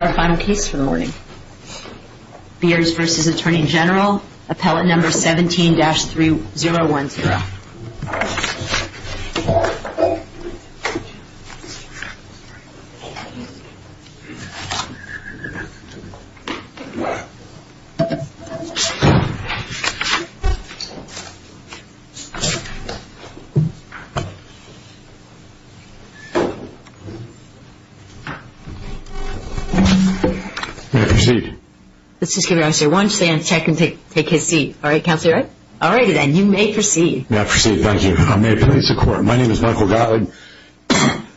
Our final case for the morning, Beers v. Attorney General, Appellate No. 17-3012. May I proceed? Let's just give you an answer. Why don't you stand, check, and take his seat. All right, Counselor. All righty then, you may proceed. May I proceed? Thank you. May it please the Court, my name is Michael Gottlieb.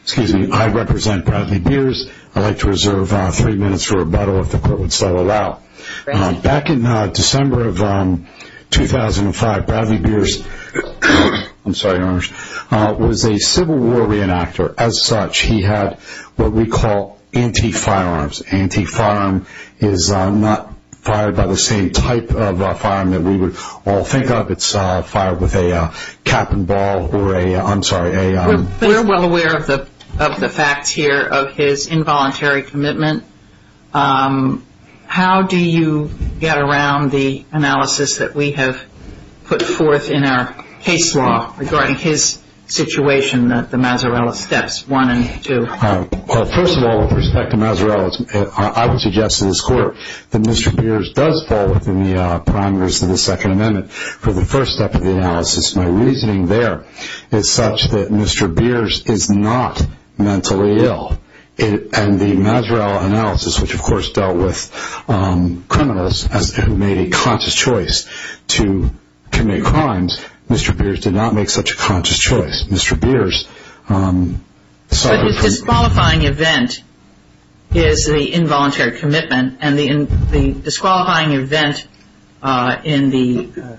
Excuse me, I represent Bradley Beers. I'd like to reserve three minutes for rebuttal if the Court would so allow. Back in December of 2005, Bradley Beers was a Civil War re-enactor. As such, he had what we call anti-firearms. Anti-firearm is not fired by the same type of firearm that we would all think of. It's fired with a cap and ball or a, I'm sorry, a... We're well aware of the facts here of his involuntary commitment. How do you get around the analysis that we have put forth in our case law regarding his situation at the Mazzarella steps 1 and 2? First of all, with respect to Mazzarella, I would suggest to this Court that Mr. Beers does fall within the parameters of the Second Amendment for the first step of the analysis. My reasoning there is such that Mr. Beers is not mentally ill. And the Mazzarella analysis, which of course dealt with criminals who made a conscious choice to commit crimes, Mr. Beers did not make such a conscious choice. Mr. Beers... But the disqualifying event is the involuntary commitment, and the disqualifying event in the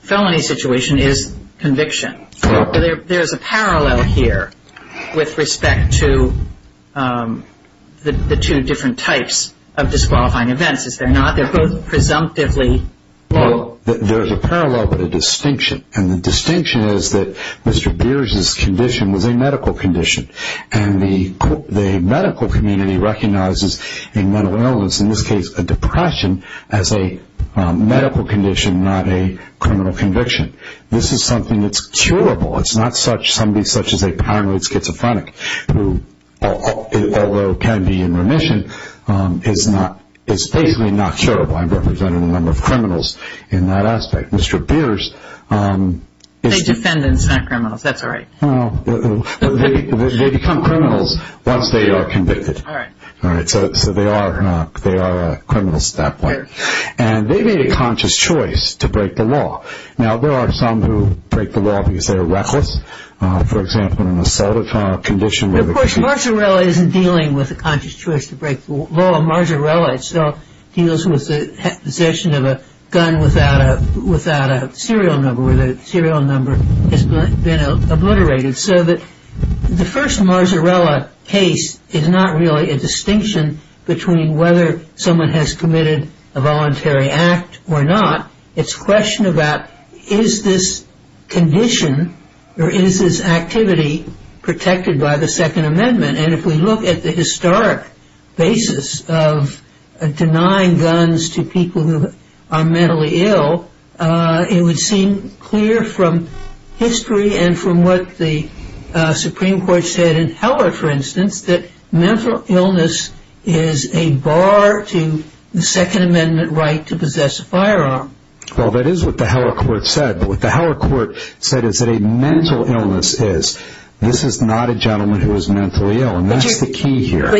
felony situation is conviction. There's a parallel here with respect to the two different types of disqualifying events, is there not? They're both presumptively... Well, there's a parallel but a distinction, and the distinction is that Mr. Beers' condition was a medical condition, and the medical community recognizes a mental illness, in this case a depression, as a medical condition, not a criminal conviction. This is something that's curable. It's not somebody such as a paranoid schizophrenic who, although can be in remission, is basically not curable. I'm representing a number of criminals in that aspect. Mr. Beers... They're defendants, not criminals. That's all right. They become criminals once they are convicted. All right. So they are criminals at that point. And they made a conscious choice to break the law. Now, there are some who break the law because they are reckless. For example, an assailant on a condition where... Of course, Marzarella isn't dealing with a conscious choice to break the law. Marzarella itself deals with the possession of a gun without a serial number, where the serial number has been obliterated. So the first Marzarella case is not really a distinction between whether someone has committed a voluntary act or not. It's a question about, is this condition or is this activity protected by the Second Amendment? And if we look at the historic basis of denying guns to people who are mentally ill, it would seem clear from history and from what the Supreme Court said in Heller, for instance, that mental illness is a bar to the Second Amendment right to possess a firearm. Well, that is what the Heller court said. But what the Heller court said is that a mental illness is, this is not a gentleman who is mentally ill, and that's the key here.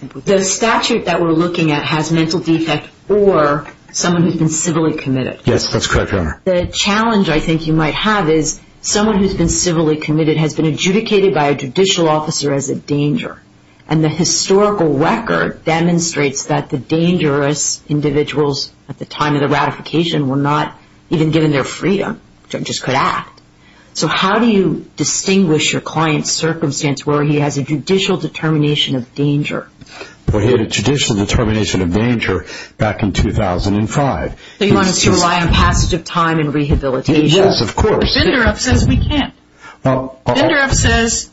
But the statute that we're looking at has mental defect or someone who's been civilly committed. Yes, that's correct, Your Honor. The challenge I think you might have is someone who's been civilly committed has been adjudicated by a judicial officer as a danger. And the historical record demonstrates that the dangerous individuals at the time of the ratification were not even given their freedom. Judges could act. So how do you distinguish your client's circumstance where he has a judicial determination of danger? Well, he had a judicial determination of danger back in 2005. So you want us to rely on passage of time and rehabilitation? Yes, of course. Binderoff says we can't. Binderoff says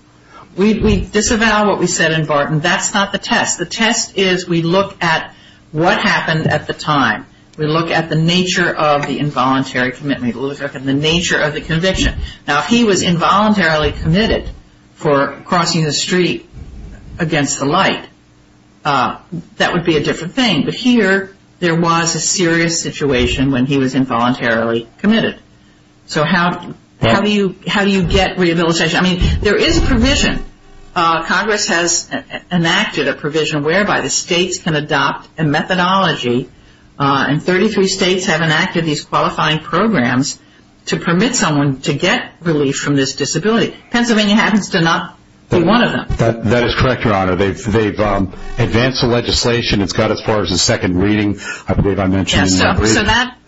we disavow what we said in Barton. That's not the test. The test is we look at what happened at the time. We look at the nature of the involuntary commitment. We look at the nature of the conviction. Now, if he was involuntarily committed for crossing the street against the light, that would be a different thing. But here there was a serious situation when he was involuntarily committed. So how do you get rehabilitation? I mean, there is a provision. Congress has enacted a provision whereby the states can adopt a methodology, and 33 states have enacted these qualifying programs to permit someone to get relief from this disability. Pennsylvania happens to not be one of them. That is correct, Your Honor. They've advanced the legislation. It's got as far as a second reading. I believe I mentioned in your briefing.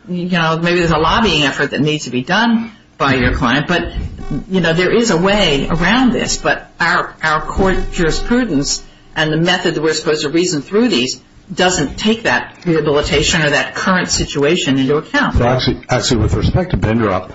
Maybe there's a lobbying effort that needs to be done by your client, but there is a way around this. But our court jurisprudence and the method that we're supposed to reason through these doesn't take that rehabilitation or that current situation into account. Actually, with respect to Binderoff,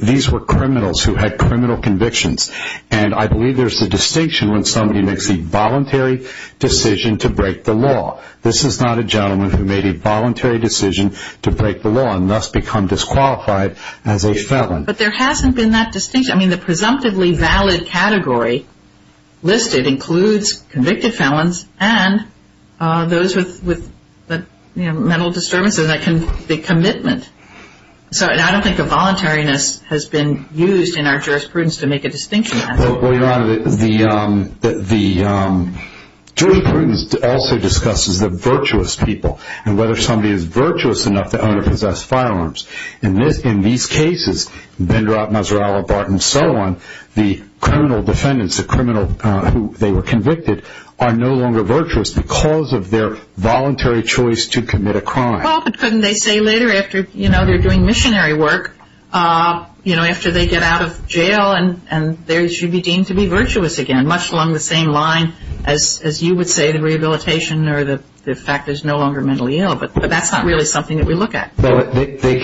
these were criminals who had criminal convictions, and I believe there's a distinction when somebody makes a voluntary decision to break the law. This is not a gentleman who made a voluntary decision to break the law and thus become disqualified as a felon. But there hasn't been that distinction. I mean, the presumptively valid category listed includes convicted felons and those with mental disturbances, the commitment. So I don't think a voluntariness has been used in our jurisprudence to make a distinction. Well, Your Honor, the jurisprudence also discusses the virtuous people and whether somebody is virtuous enough to own or possess firearms. In these cases, Binderoff, Mazzarella, Barton, and so on, the criminal defendants, the criminal who they were convicted, are no longer virtuous because of their voluntary choice to commit a crime. Well, but couldn't they say later after they're doing missionary work, you know, after they get out of jail, and they should be deemed to be virtuous again, much along the same line as you would say the rehabilitation or the fact there's no longer mentally ill, but that's not really something that we look at. Well, they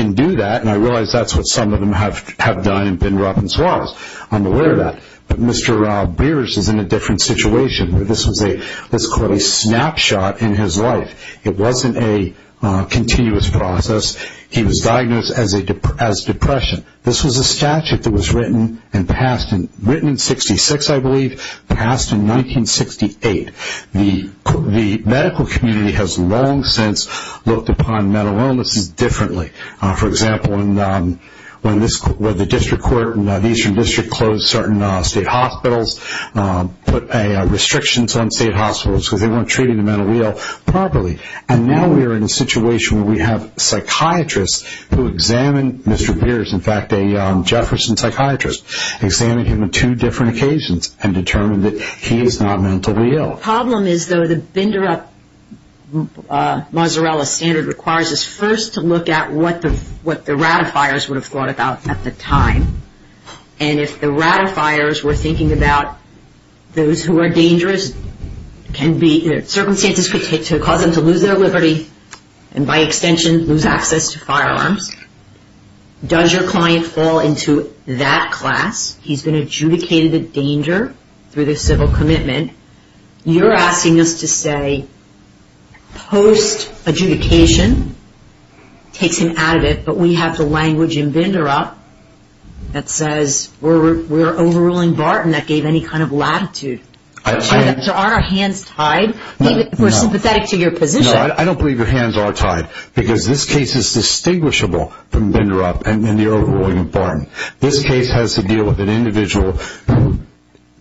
can do that, and I realize that's what some of them have done in Binroff and Suarez. I'm aware of that. But Mr. Rob Beers is in a different situation. This was a, let's call it a snapshot in his life. It wasn't a continuous process. He was diagnosed as depression. This was a statute that was written and passed, written in 1966, I believe, passed in 1968. The medical community has long since looked upon mental illnesses differently. For example, when the district court, the Eastern District closed certain state hospitals, put restrictions on state hospitals because they weren't treating the mental ill properly. And now we are in a situation where we have psychiatrists who examine Mr. Beers. In fact, a Jefferson psychiatrist examined him on two different occasions and determined that he is not mentally ill. The problem is, though, the Bindroff-Mozarella standard requires us first to look at what the ratifiers would have thought about at the time. And if the ratifiers were thinking about those who are dangerous, circumstances could cause them to lose their liberty and, by extension, lose access to firearms. Does your client fall into that class? He's been adjudicated a danger through the civil commitment. You're asking us to say post-adjudication takes him out of it, but we have the language in Bindroff that says we're overruling Barton that gave any kind of latitude. So aren't our hands tied? We're sympathetic to your position. No, I don't believe your hands are tied because this case is distinguishable from Bindroff and the overruling of Barton. This case has to deal with an individual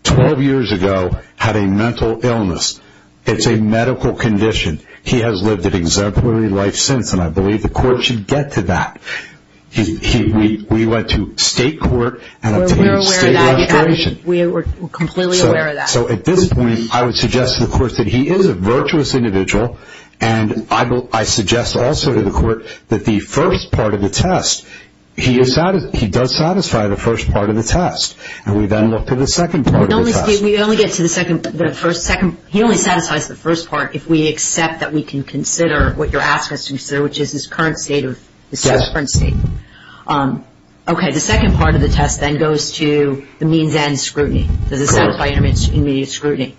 12 years ago having mental illness. It's a medical condition. He has lived an exemplary life since, and I believe the court should get to that. We went to state court and obtained state registration. We were completely aware of that. So at this point, I would suggest to the court that he is a virtuous individual, and I suggest also to the court that the first part of the test, he does satisfy the first part of the test, and we then look to the second part of the test. We only get to the first second. He only satisfies the first part if we accept that we can consider what you're asking us to consider, which is his current state of, his current state. Okay, the second part of the test then goes to the means and scrutiny. Does it satisfy intermediate scrutiny?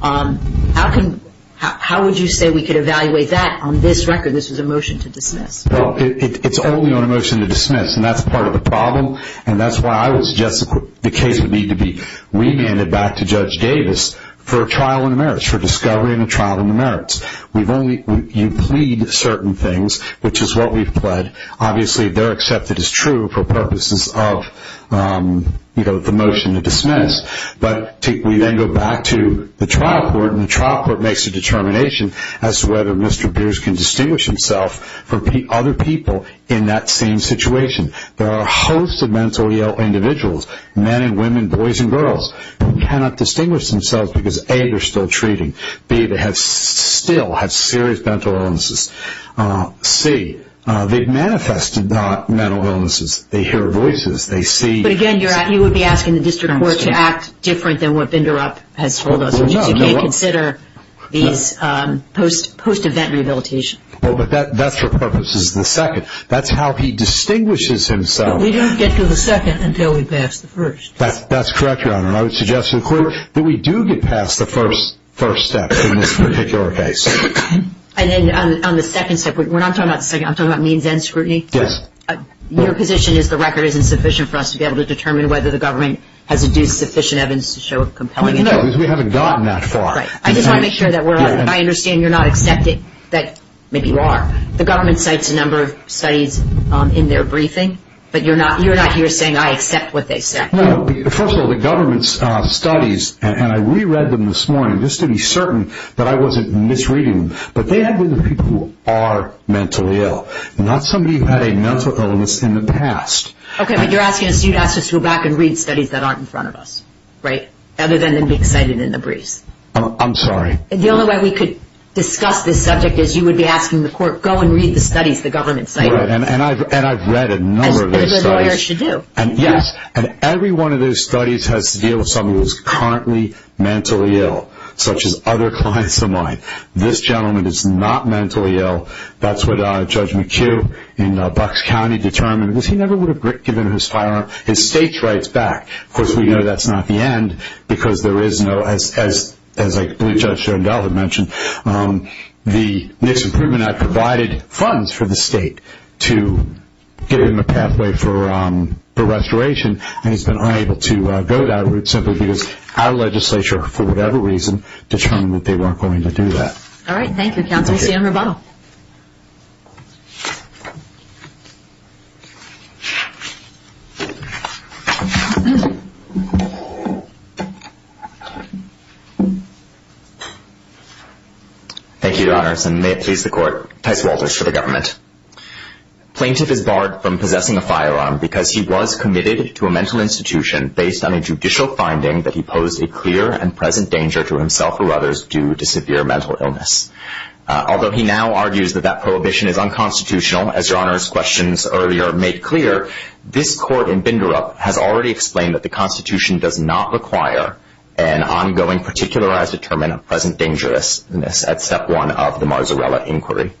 How would you say we could evaluate that on this record? This was a motion to dismiss. Well, it's only on a motion to dismiss, and that's part of the problem, and that's why I would suggest the case would need to be remanded back to Judge Davis for a trial on the merits, for discovery and a trial on the merits. You plead certain things, which is what we've pled. Obviously, they're accepted as true for purposes of, you know, the motion to dismiss. But we then go back to the trial court, and the trial court makes a determination as to whether Mr. Beers can distinguish himself from other people in that same situation. There are a host of mentally ill individuals, men and women, boys and girls, who cannot distinguish themselves because, A, they're still treating. B, they still have serious mental illnesses. C, they've manifested not mental illnesses. They hear voices. They see. But, again, you would be asking the district court to act different than what Binderup has told us, which is you can't consider these post-event rehabilitation. Well, but that's for purposes of the second. That's how he distinguishes himself. But we don't get to the second until we pass the first. That's correct, Your Honor, and I would suggest to the court that we do get past the first step in this particular case. And then on the second step, we're not talking about the second. I'm talking about means and scrutiny. Yes. Your position is the record isn't sufficient for us to be able to determine whether the government has induced sufficient evidence to show compelling evidence. No, because we haven't gotten that far. Right. I just want to make sure that I understand you're not accepting that maybe you are. The government cites a number of studies in their briefing, but you're not here saying I accept what they say. No. First of all, the government's studies, and I reread them this morning just to be certain that I wasn't misreading them, but they had to be the people who are mentally ill, not somebody who had a mental illness in the past. Okay, but you're asking us to go back and read studies that aren't in front of us, right, other than they'd be cited in the briefs. I'm sorry. The only way we could discuss this subject is you would be asking the court, go and read the studies the government cited. Right, and I've read a number of those studies. As a good lawyer should do. Yes, and every one of those studies has to deal with somebody who is currently mentally ill, such as other clients of mine. This gentleman is not mentally ill. That's what Judge McHugh in Bucks County determined, because he never would have given his firearm, his state's rights back. Of course, we know that's not the end, because there is no, as I believe Judge John Delvin mentioned, the NICS Improvement Act provided funds for the state to give him a pathway for restoration, and he's been unable to go that route simply because our legislature, for whatever reason, determined that they weren't going to do that. All right. Thank you, Counsel. We'll see you in rebuttal. Thank you, Your Honors, and may it please the court, Tice Walters for the government. Plaintiff is barred from possessing a firearm because he was committed to a mental institution based on a judicial finding that he posed a clear and present danger to himself or others due to severe mental illness. Although he now argues that that prohibition is unconstitutional, as Your Honors' questions earlier made clear, this court in Binderup has already explained that the Constitution does not require an ongoing particularized determent of present dangerousness at step one of the Marzarella inquiry.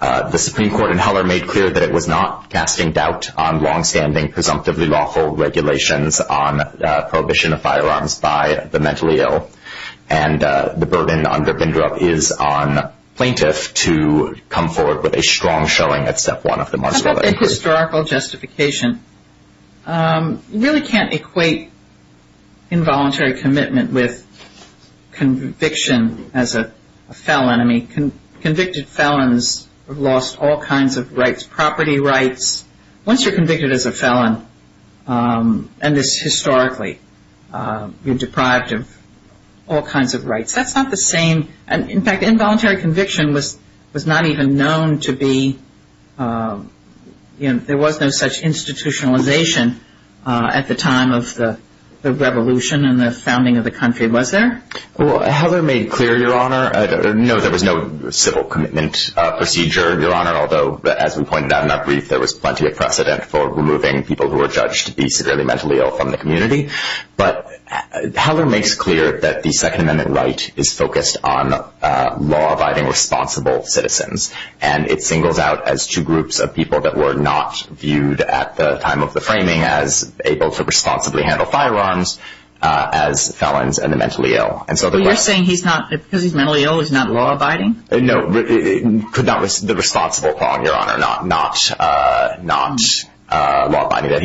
The Supreme Court in Heller made clear that it was not casting doubt on longstanding, presumptively lawful regulations on prohibition of firearms by the mentally ill, and the burden under Binderup is on plaintiff to come forward with a strong showing at step one of the Marzarella inquiry. How about the historical justification? You really can't equate involuntary commitment with conviction as a fell enemy, convicted felons have lost all kinds of rights, property rights. Once you're convicted as a felon, and this historically, you're deprived of all kinds of rights. That's not the same. In fact, involuntary conviction was not even known to be, there was no such institutionalization at the time of the revolution and the founding of the country. Was there? Well, Heller made clear, Your Honor, no, there was no civil commitment procedure, Your Honor, although as we pointed out in that brief, there was plenty of precedent for removing people who were judged to be severely mentally ill from the community. But Heller makes clear that the Second Amendment right is focused on law-abiding, responsible citizens, and it singles out as two groups of people that were not viewed at the time of the framing as able to responsibly handle firearms as felons and the mentally ill. So you're saying because he's mentally ill, he's not law-abiding? No, the responsible part, Your Honor, not law-abiding, that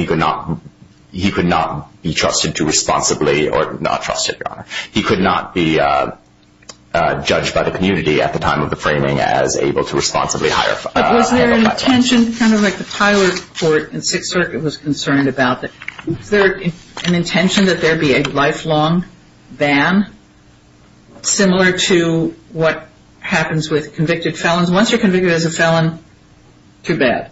he could not be trusted to responsibly or not trusted, Your Honor. He could not be judged by the community at the time of the framing as able to responsibly handle firearms. But was there an intention, kind of like the Tyler Court in Sixth Circuit was concerned about, was there an intention that there be a lifelong ban similar to what happens with convicted felons? Once you're convicted as a felon, too bad.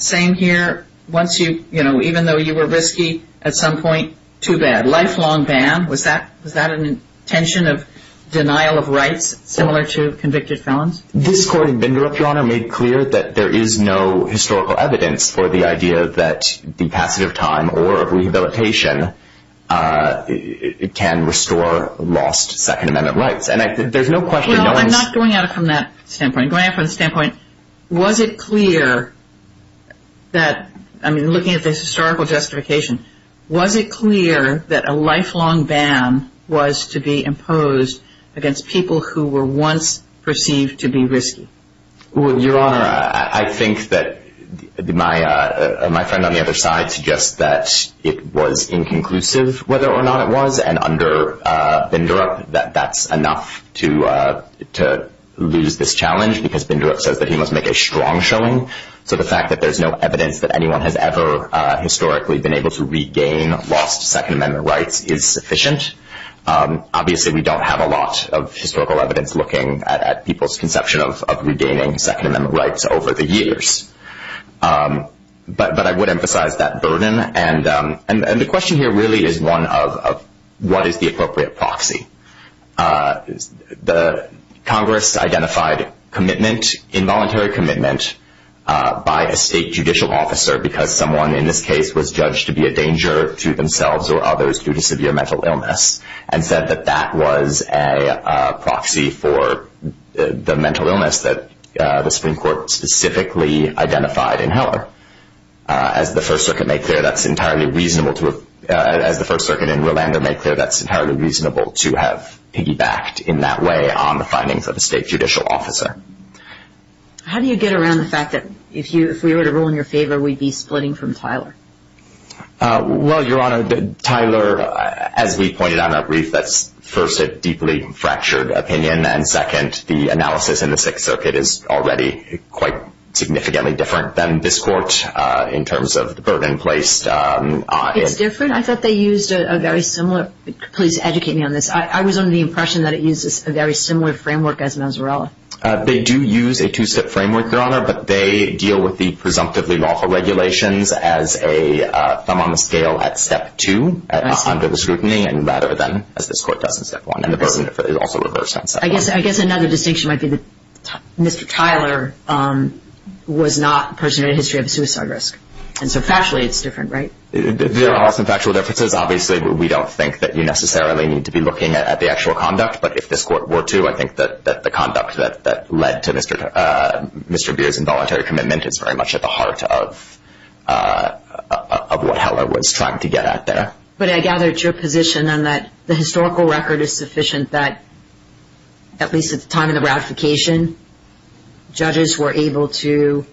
Same here, once you, you know, even though you were risky at some point, too bad. Lifelong ban, was that an intention of denial of rights similar to convicted felons? This court in Binderich, Your Honor, made clear that there is no historical evidence for the idea that the passage of time or of rehabilitation can restore lost Second Amendment rights. And there's no question, no one's- Well, I'm not going at it from that standpoint. I'm going at it from the standpoint, was it clear that, I mean, looking at this historical justification, was it clear that a lifelong ban was to be imposed against people who were once perceived to be risky? Well, Your Honor, I think that my friend on the other side suggests that it was inconclusive whether or not it was. And under Binderich, that's enough to lose this challenge because Binderich says that he must make a strong showing. So the fact that there's no evidence that anyone has ever historically been able to regain lost Second Amendment rights is sufficient. Obviously, we don't have a lot of historical evidence looking at people's conception of regaining Second Amendment rights over the years. But I would emphasize that burden. And the question here really is one of what is the appropriate proxy? Congress identified involuntary commitment by a state judicial officer because someone, in this case, was judged to be a danger to themselves or others due to severe mental illness and said that that was a proxy for the mental illness that the Supreme Court specifically identified in Heller. As the First Circuit in Rolando made clear, that's entirely reasonable to have piggybacked in that way on the findings of a state judicial officer. How do you get around the fact that if we were to rule in your favor, we'd be splitting from Tyler? Well, Your Honor, Tyler, as we pointed out in our brief, that's first a deeply fractured opinion, and then second, the analysis in the Sixth Circuit is already quite significantly different than this court in terms of the burden placed. It's different? I thought they used a very similar – please educate me on this. I was under the impression that it uses a very similar framework as Mazzarella. They do use a two-step framework, Your Honor, but they deal with the presumptively lawful regulations as a thumb on the scale at step two under the scrutiny rather than as this court does in step one, and the burden is also reversed on step one. I guess another distinction might be that Mr. Tyler was not a person in a history of suicide risk, and so factually it's different, right? There are some factual differences. Obviously, we don't think that you necessarily need to be looking at the actual conduct, but if this court were to, I think that the conduct that led to Mr. Beer's involuntary commitment is very much at the heart of what Heller was trying to get at there. But I gather it's your position on that the historical record is sufficient that, at least at the time of the ratification, judges were able to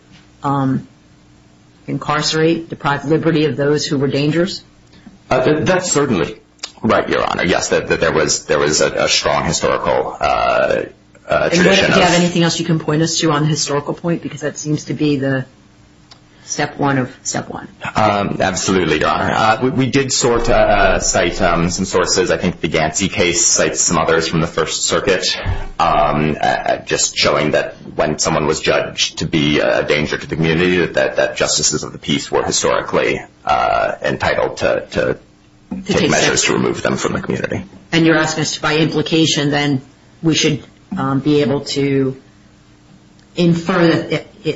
incarcerate, deprive liberty of those who were dangerous? That's certainly right, Your Honor. Yes, there was a strong historical tradition of – step one of step one. Absolutely, Your Honor. We did cite some sources. I think the Gansey case cites some others from the First Circuit, just showing that when someone was judged to be a danger to the community, that justices of the peace were historically entitled to take measures to remove them from the community. And you're asking us if, by implication, then we should be able to infer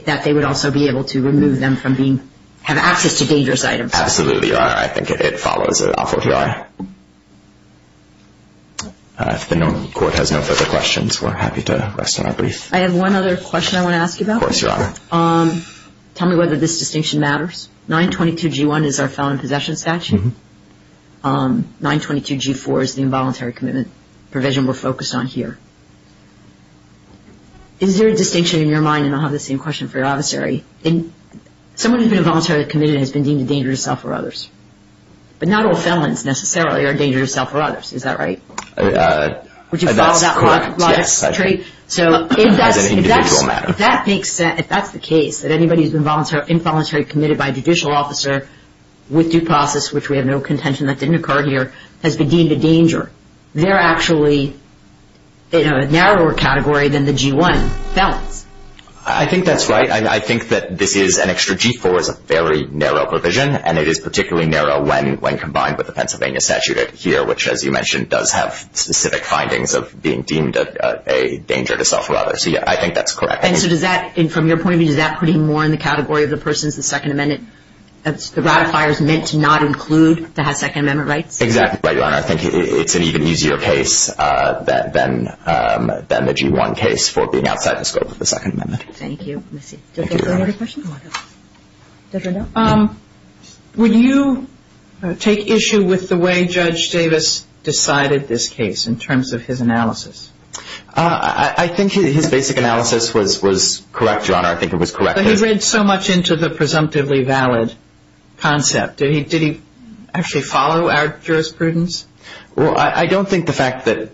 that they would also be able to remove them from being – have access to dangerous items? Absolutely, Your Honor. I think it follows awfully well. If the court has no further questions, we're happy to rest on our brief. I have one other question I want to ask you about. Of course, Your Honor. Tell me whether this distinction matters. 922G1 is our felon in possession statute. 922G4 is the involuntary commitment provision we're focused on here. Is there a distinction in your mind, and I'll have the same question for your adversary. Someone who's been involuntarily committed has been deemed a danger to self or others. But not all felons, necessarily, are a danger to self or others. Is that right? That's correct, yes. As an individual matter. If that's the case, that anybody who's been involuntarily committed by a judicial officer with due process, which we have no contention that didn't occur here, has been deemed a danger, they're actually in a narrower category than the G1 felons. I think that's right. I think that this is an extra – G4 is a very narrow provision, and it is particularly narrow when combined with the Pennsylvania statute here, which, as you mentioned, does have specific findings of being deemed a danger to self or others. So, yeah, I think that's correct. And so does that, from your point of view, does that put him more in the category of the persons of the Second Amendment? The ratifier is meant to not include to have Second Amendment rights? Exactly right, Your Honor. I think it's an even easier case than the G1 case for being outside the scope of the Second Amendment. Thank you. Thank you, Your Honor. Would you take issue with the way Judge Davis decided this case in terms of his analysis? I think his basic analysis was correct, Your Honor. I think it was correct. But he read so much into the presumptively valid concept. Did he actually follow our jurisprudence? Well, I don't think the fact that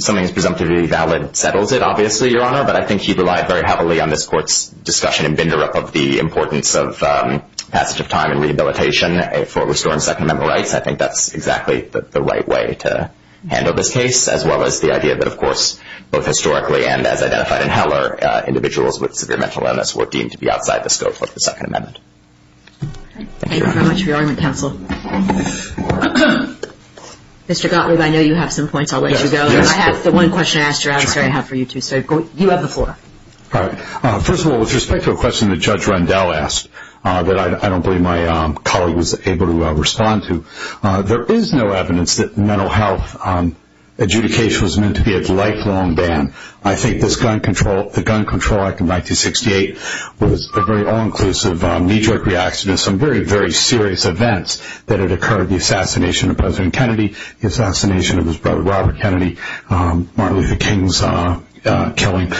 something is presumptively valid settles it, obviously, Your Honor. But I think he relied very heavily on this Court's discussion and binder up of the importance of passage of time and rehabilitation for restoring Second Amendment rights. I think that's exactly the right way to handle this case, as well as the idea that, of course, both historically and as identified in Heller, individuals with severe mental illness were deemed to be outside the scope of the Second Amendment. Thank you very much for your argument, counsel. Mr. Gottlieb, I know you have some points. I'll let you go. I have the one question I asked, or I'm sorry, I have for you, too. So you have the floor. All right. First of all, with respect to a question that Judge Rendell asked that I don't believe my colleague was able to respond to, there is no evidence that mental health adjudication was meant to be a lifelong ban. I think the Gun Control Act of 1968 was a very all-inclusive knee-jerk reaction to some very, very serious events that had occurred, the assassination of President Kennedy, the assassination of his brother Robert Kennedy, Martin Luther King's killing.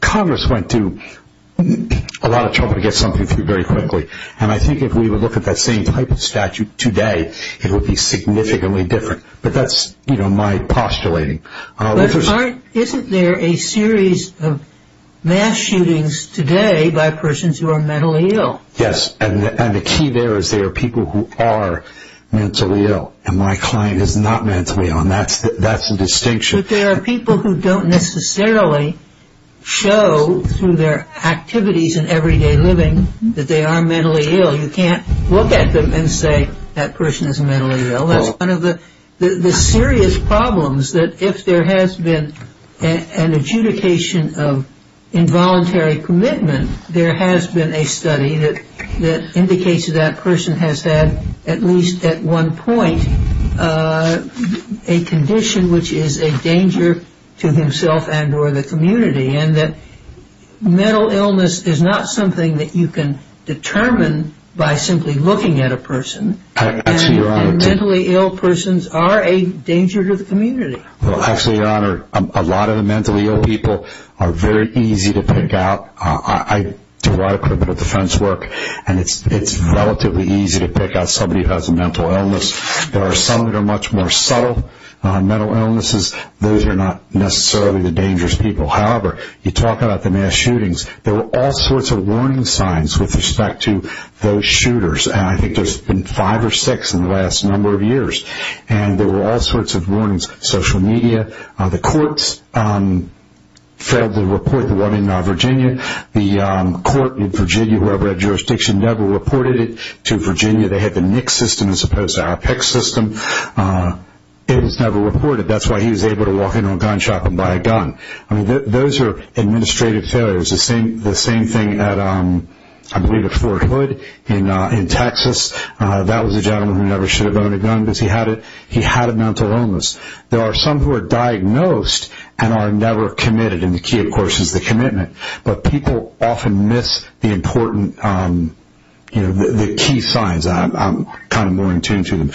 Congress went through a lot of trouble to get something through very quickly, and I think if we would look at that same type of statute today, it would be significantly different. But that's my postulating. But isn't there a series of mass shootings today by persons who are mentally ill? Yes, and the key there is there are people who are mentally ill, and my client is not mentally ill, and that's the distinction. But there are people who don't necessarily show through their activities and everyday living that they are mentally ill. You can't look at them and say that person is mentally ill. That's one of the serious problems that if there has been an adjudication of involuntary commitment, there has been a study that indicates that that person has had at least at one point a condition which is a danger to himself and or the community, and that mental illness is not something that you can determine by simply looking at a person, and mentally ill persons are a danger to the community. Well, actually, Your Honor, a lot of the mentally ill people are very easy to pick out. I do a lot of criminal defense work, and it's relatively easy to pick out somebody who has a mental illness. There are some that are much more subtle mental illnesses. Those are not necessarily the dangerous people. However, you talk about the mass shootings. There were all sorts of warning signs with respect to those shooters, and I think there's been five or six in the last number of years, and there were all sorts of warnings. Social media, the courts failed to report the one in Virginia. The court in Virginia, whoever had jurisdiction, never reported it to Virginia. They had the NICS system as opposed to our PICS system. It was never reported. That's why he was able to walk into a gun shop and buy a gun. Those are administrative failures. The same thing, I believe, at Fort Hood in Texas. That was a gentleman who never should have owned a gun because he had a mental illness. There are some who are diagnosed and are never committed, and the key, of course, is the commitment, but people often miss the key signs. I'm kind of more in tune to them.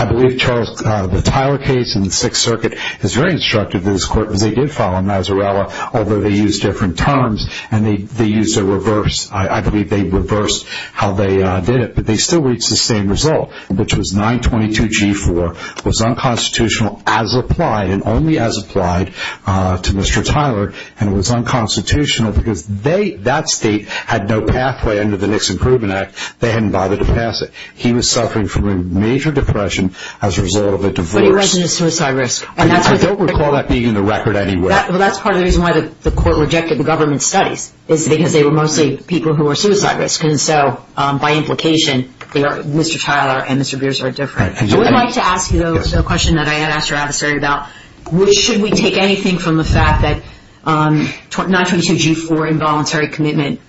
I believe the Tyler case in the Sixth Circuit is very instructive to this court because they did file a Nazarella, although they used different terms, and they used a reverse. I believe they reversed how they did it, but they still reached the same result, which was 922G4 was unconstitutional as applied and only as applied to Mr. Tyler, and it was unconstitutional because that state had no pathway under the NICS Improvement Act. They hadn't bothered to pass it. He was suffering from a major depression as a result of a divorce. But he wasn't a suicide risk. I don't recall that being in the record anywhere. Well, that's part of the reason why the court rejected the government studies is because they were mostly people who were suicide risk, and so by implication Mr. Tyler and Mr. Beers are different. I would like to ask you, though, a question that I had asked your adversary about. Should we take anything from the fact that 922G4 involuntary commitment,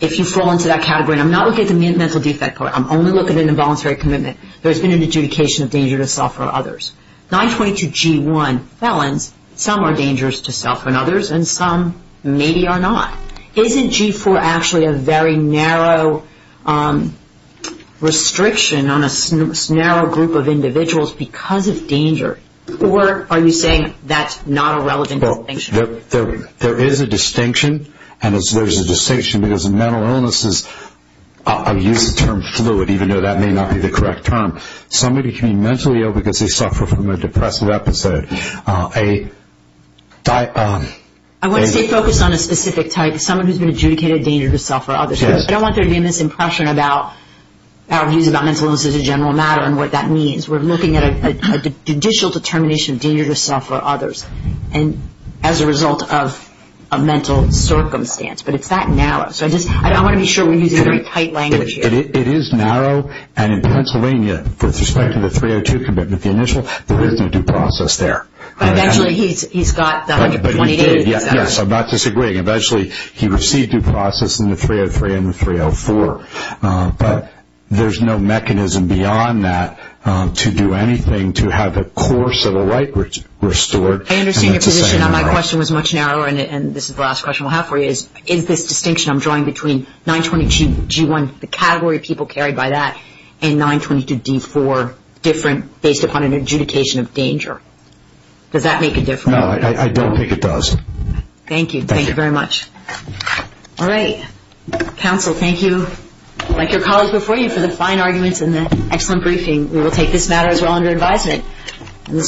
if you fall into that category, and I'm not looking at the mental defect part. I'm only looking at an involuntary commitment. There's been an adjudication of danger to self or others. 922G1 felons, some are dangerous to self and others, and some maybe are not. Isn't G4 actually a very narrow restriction on a narrow group of individuals because of danger? Or are you saying that's not a relevant distinction? There is a distinction, and there's a distinction because mental illnesses, I'll use the term fluid even though that may not be the correct term. Somebody can be mentally ill because they suffer from a depressive episode. I want to stay focused on a specific type, someone who's been adjudicated danger to self or others. I don't want there to be a misimpression about our views about mental illnesses as a general matter and what that means. We're looking at a judicial determination of danger to self or others as a result of a mental circumstance. But it's that narrow. I want to be sure we're using very tight language here. It is narrow, and in Pennsylvania, with respect to the 302 commitment, the initial, there is no due process there. But eventually he's got the 128. Yes, I'm not disagreeing. Eventually he received due process in the 303 and the 304. But there's no mechanism beyond that to do anything to have a course of the right restored. I understand your position. My question was much narrower, and this is the last question we'll have for you. Is this distinction I'm drawing between 922G1, the category of people carried by that, and 922D4 different based upon an adjudication of danger? Does that make a difference? No, I don't think it does. Thank you. Thank you very much. All right. Counsel, thank you, like your colleagues before you, for the fine arguments and the excellent briefing. We will take this matter as well under advisement.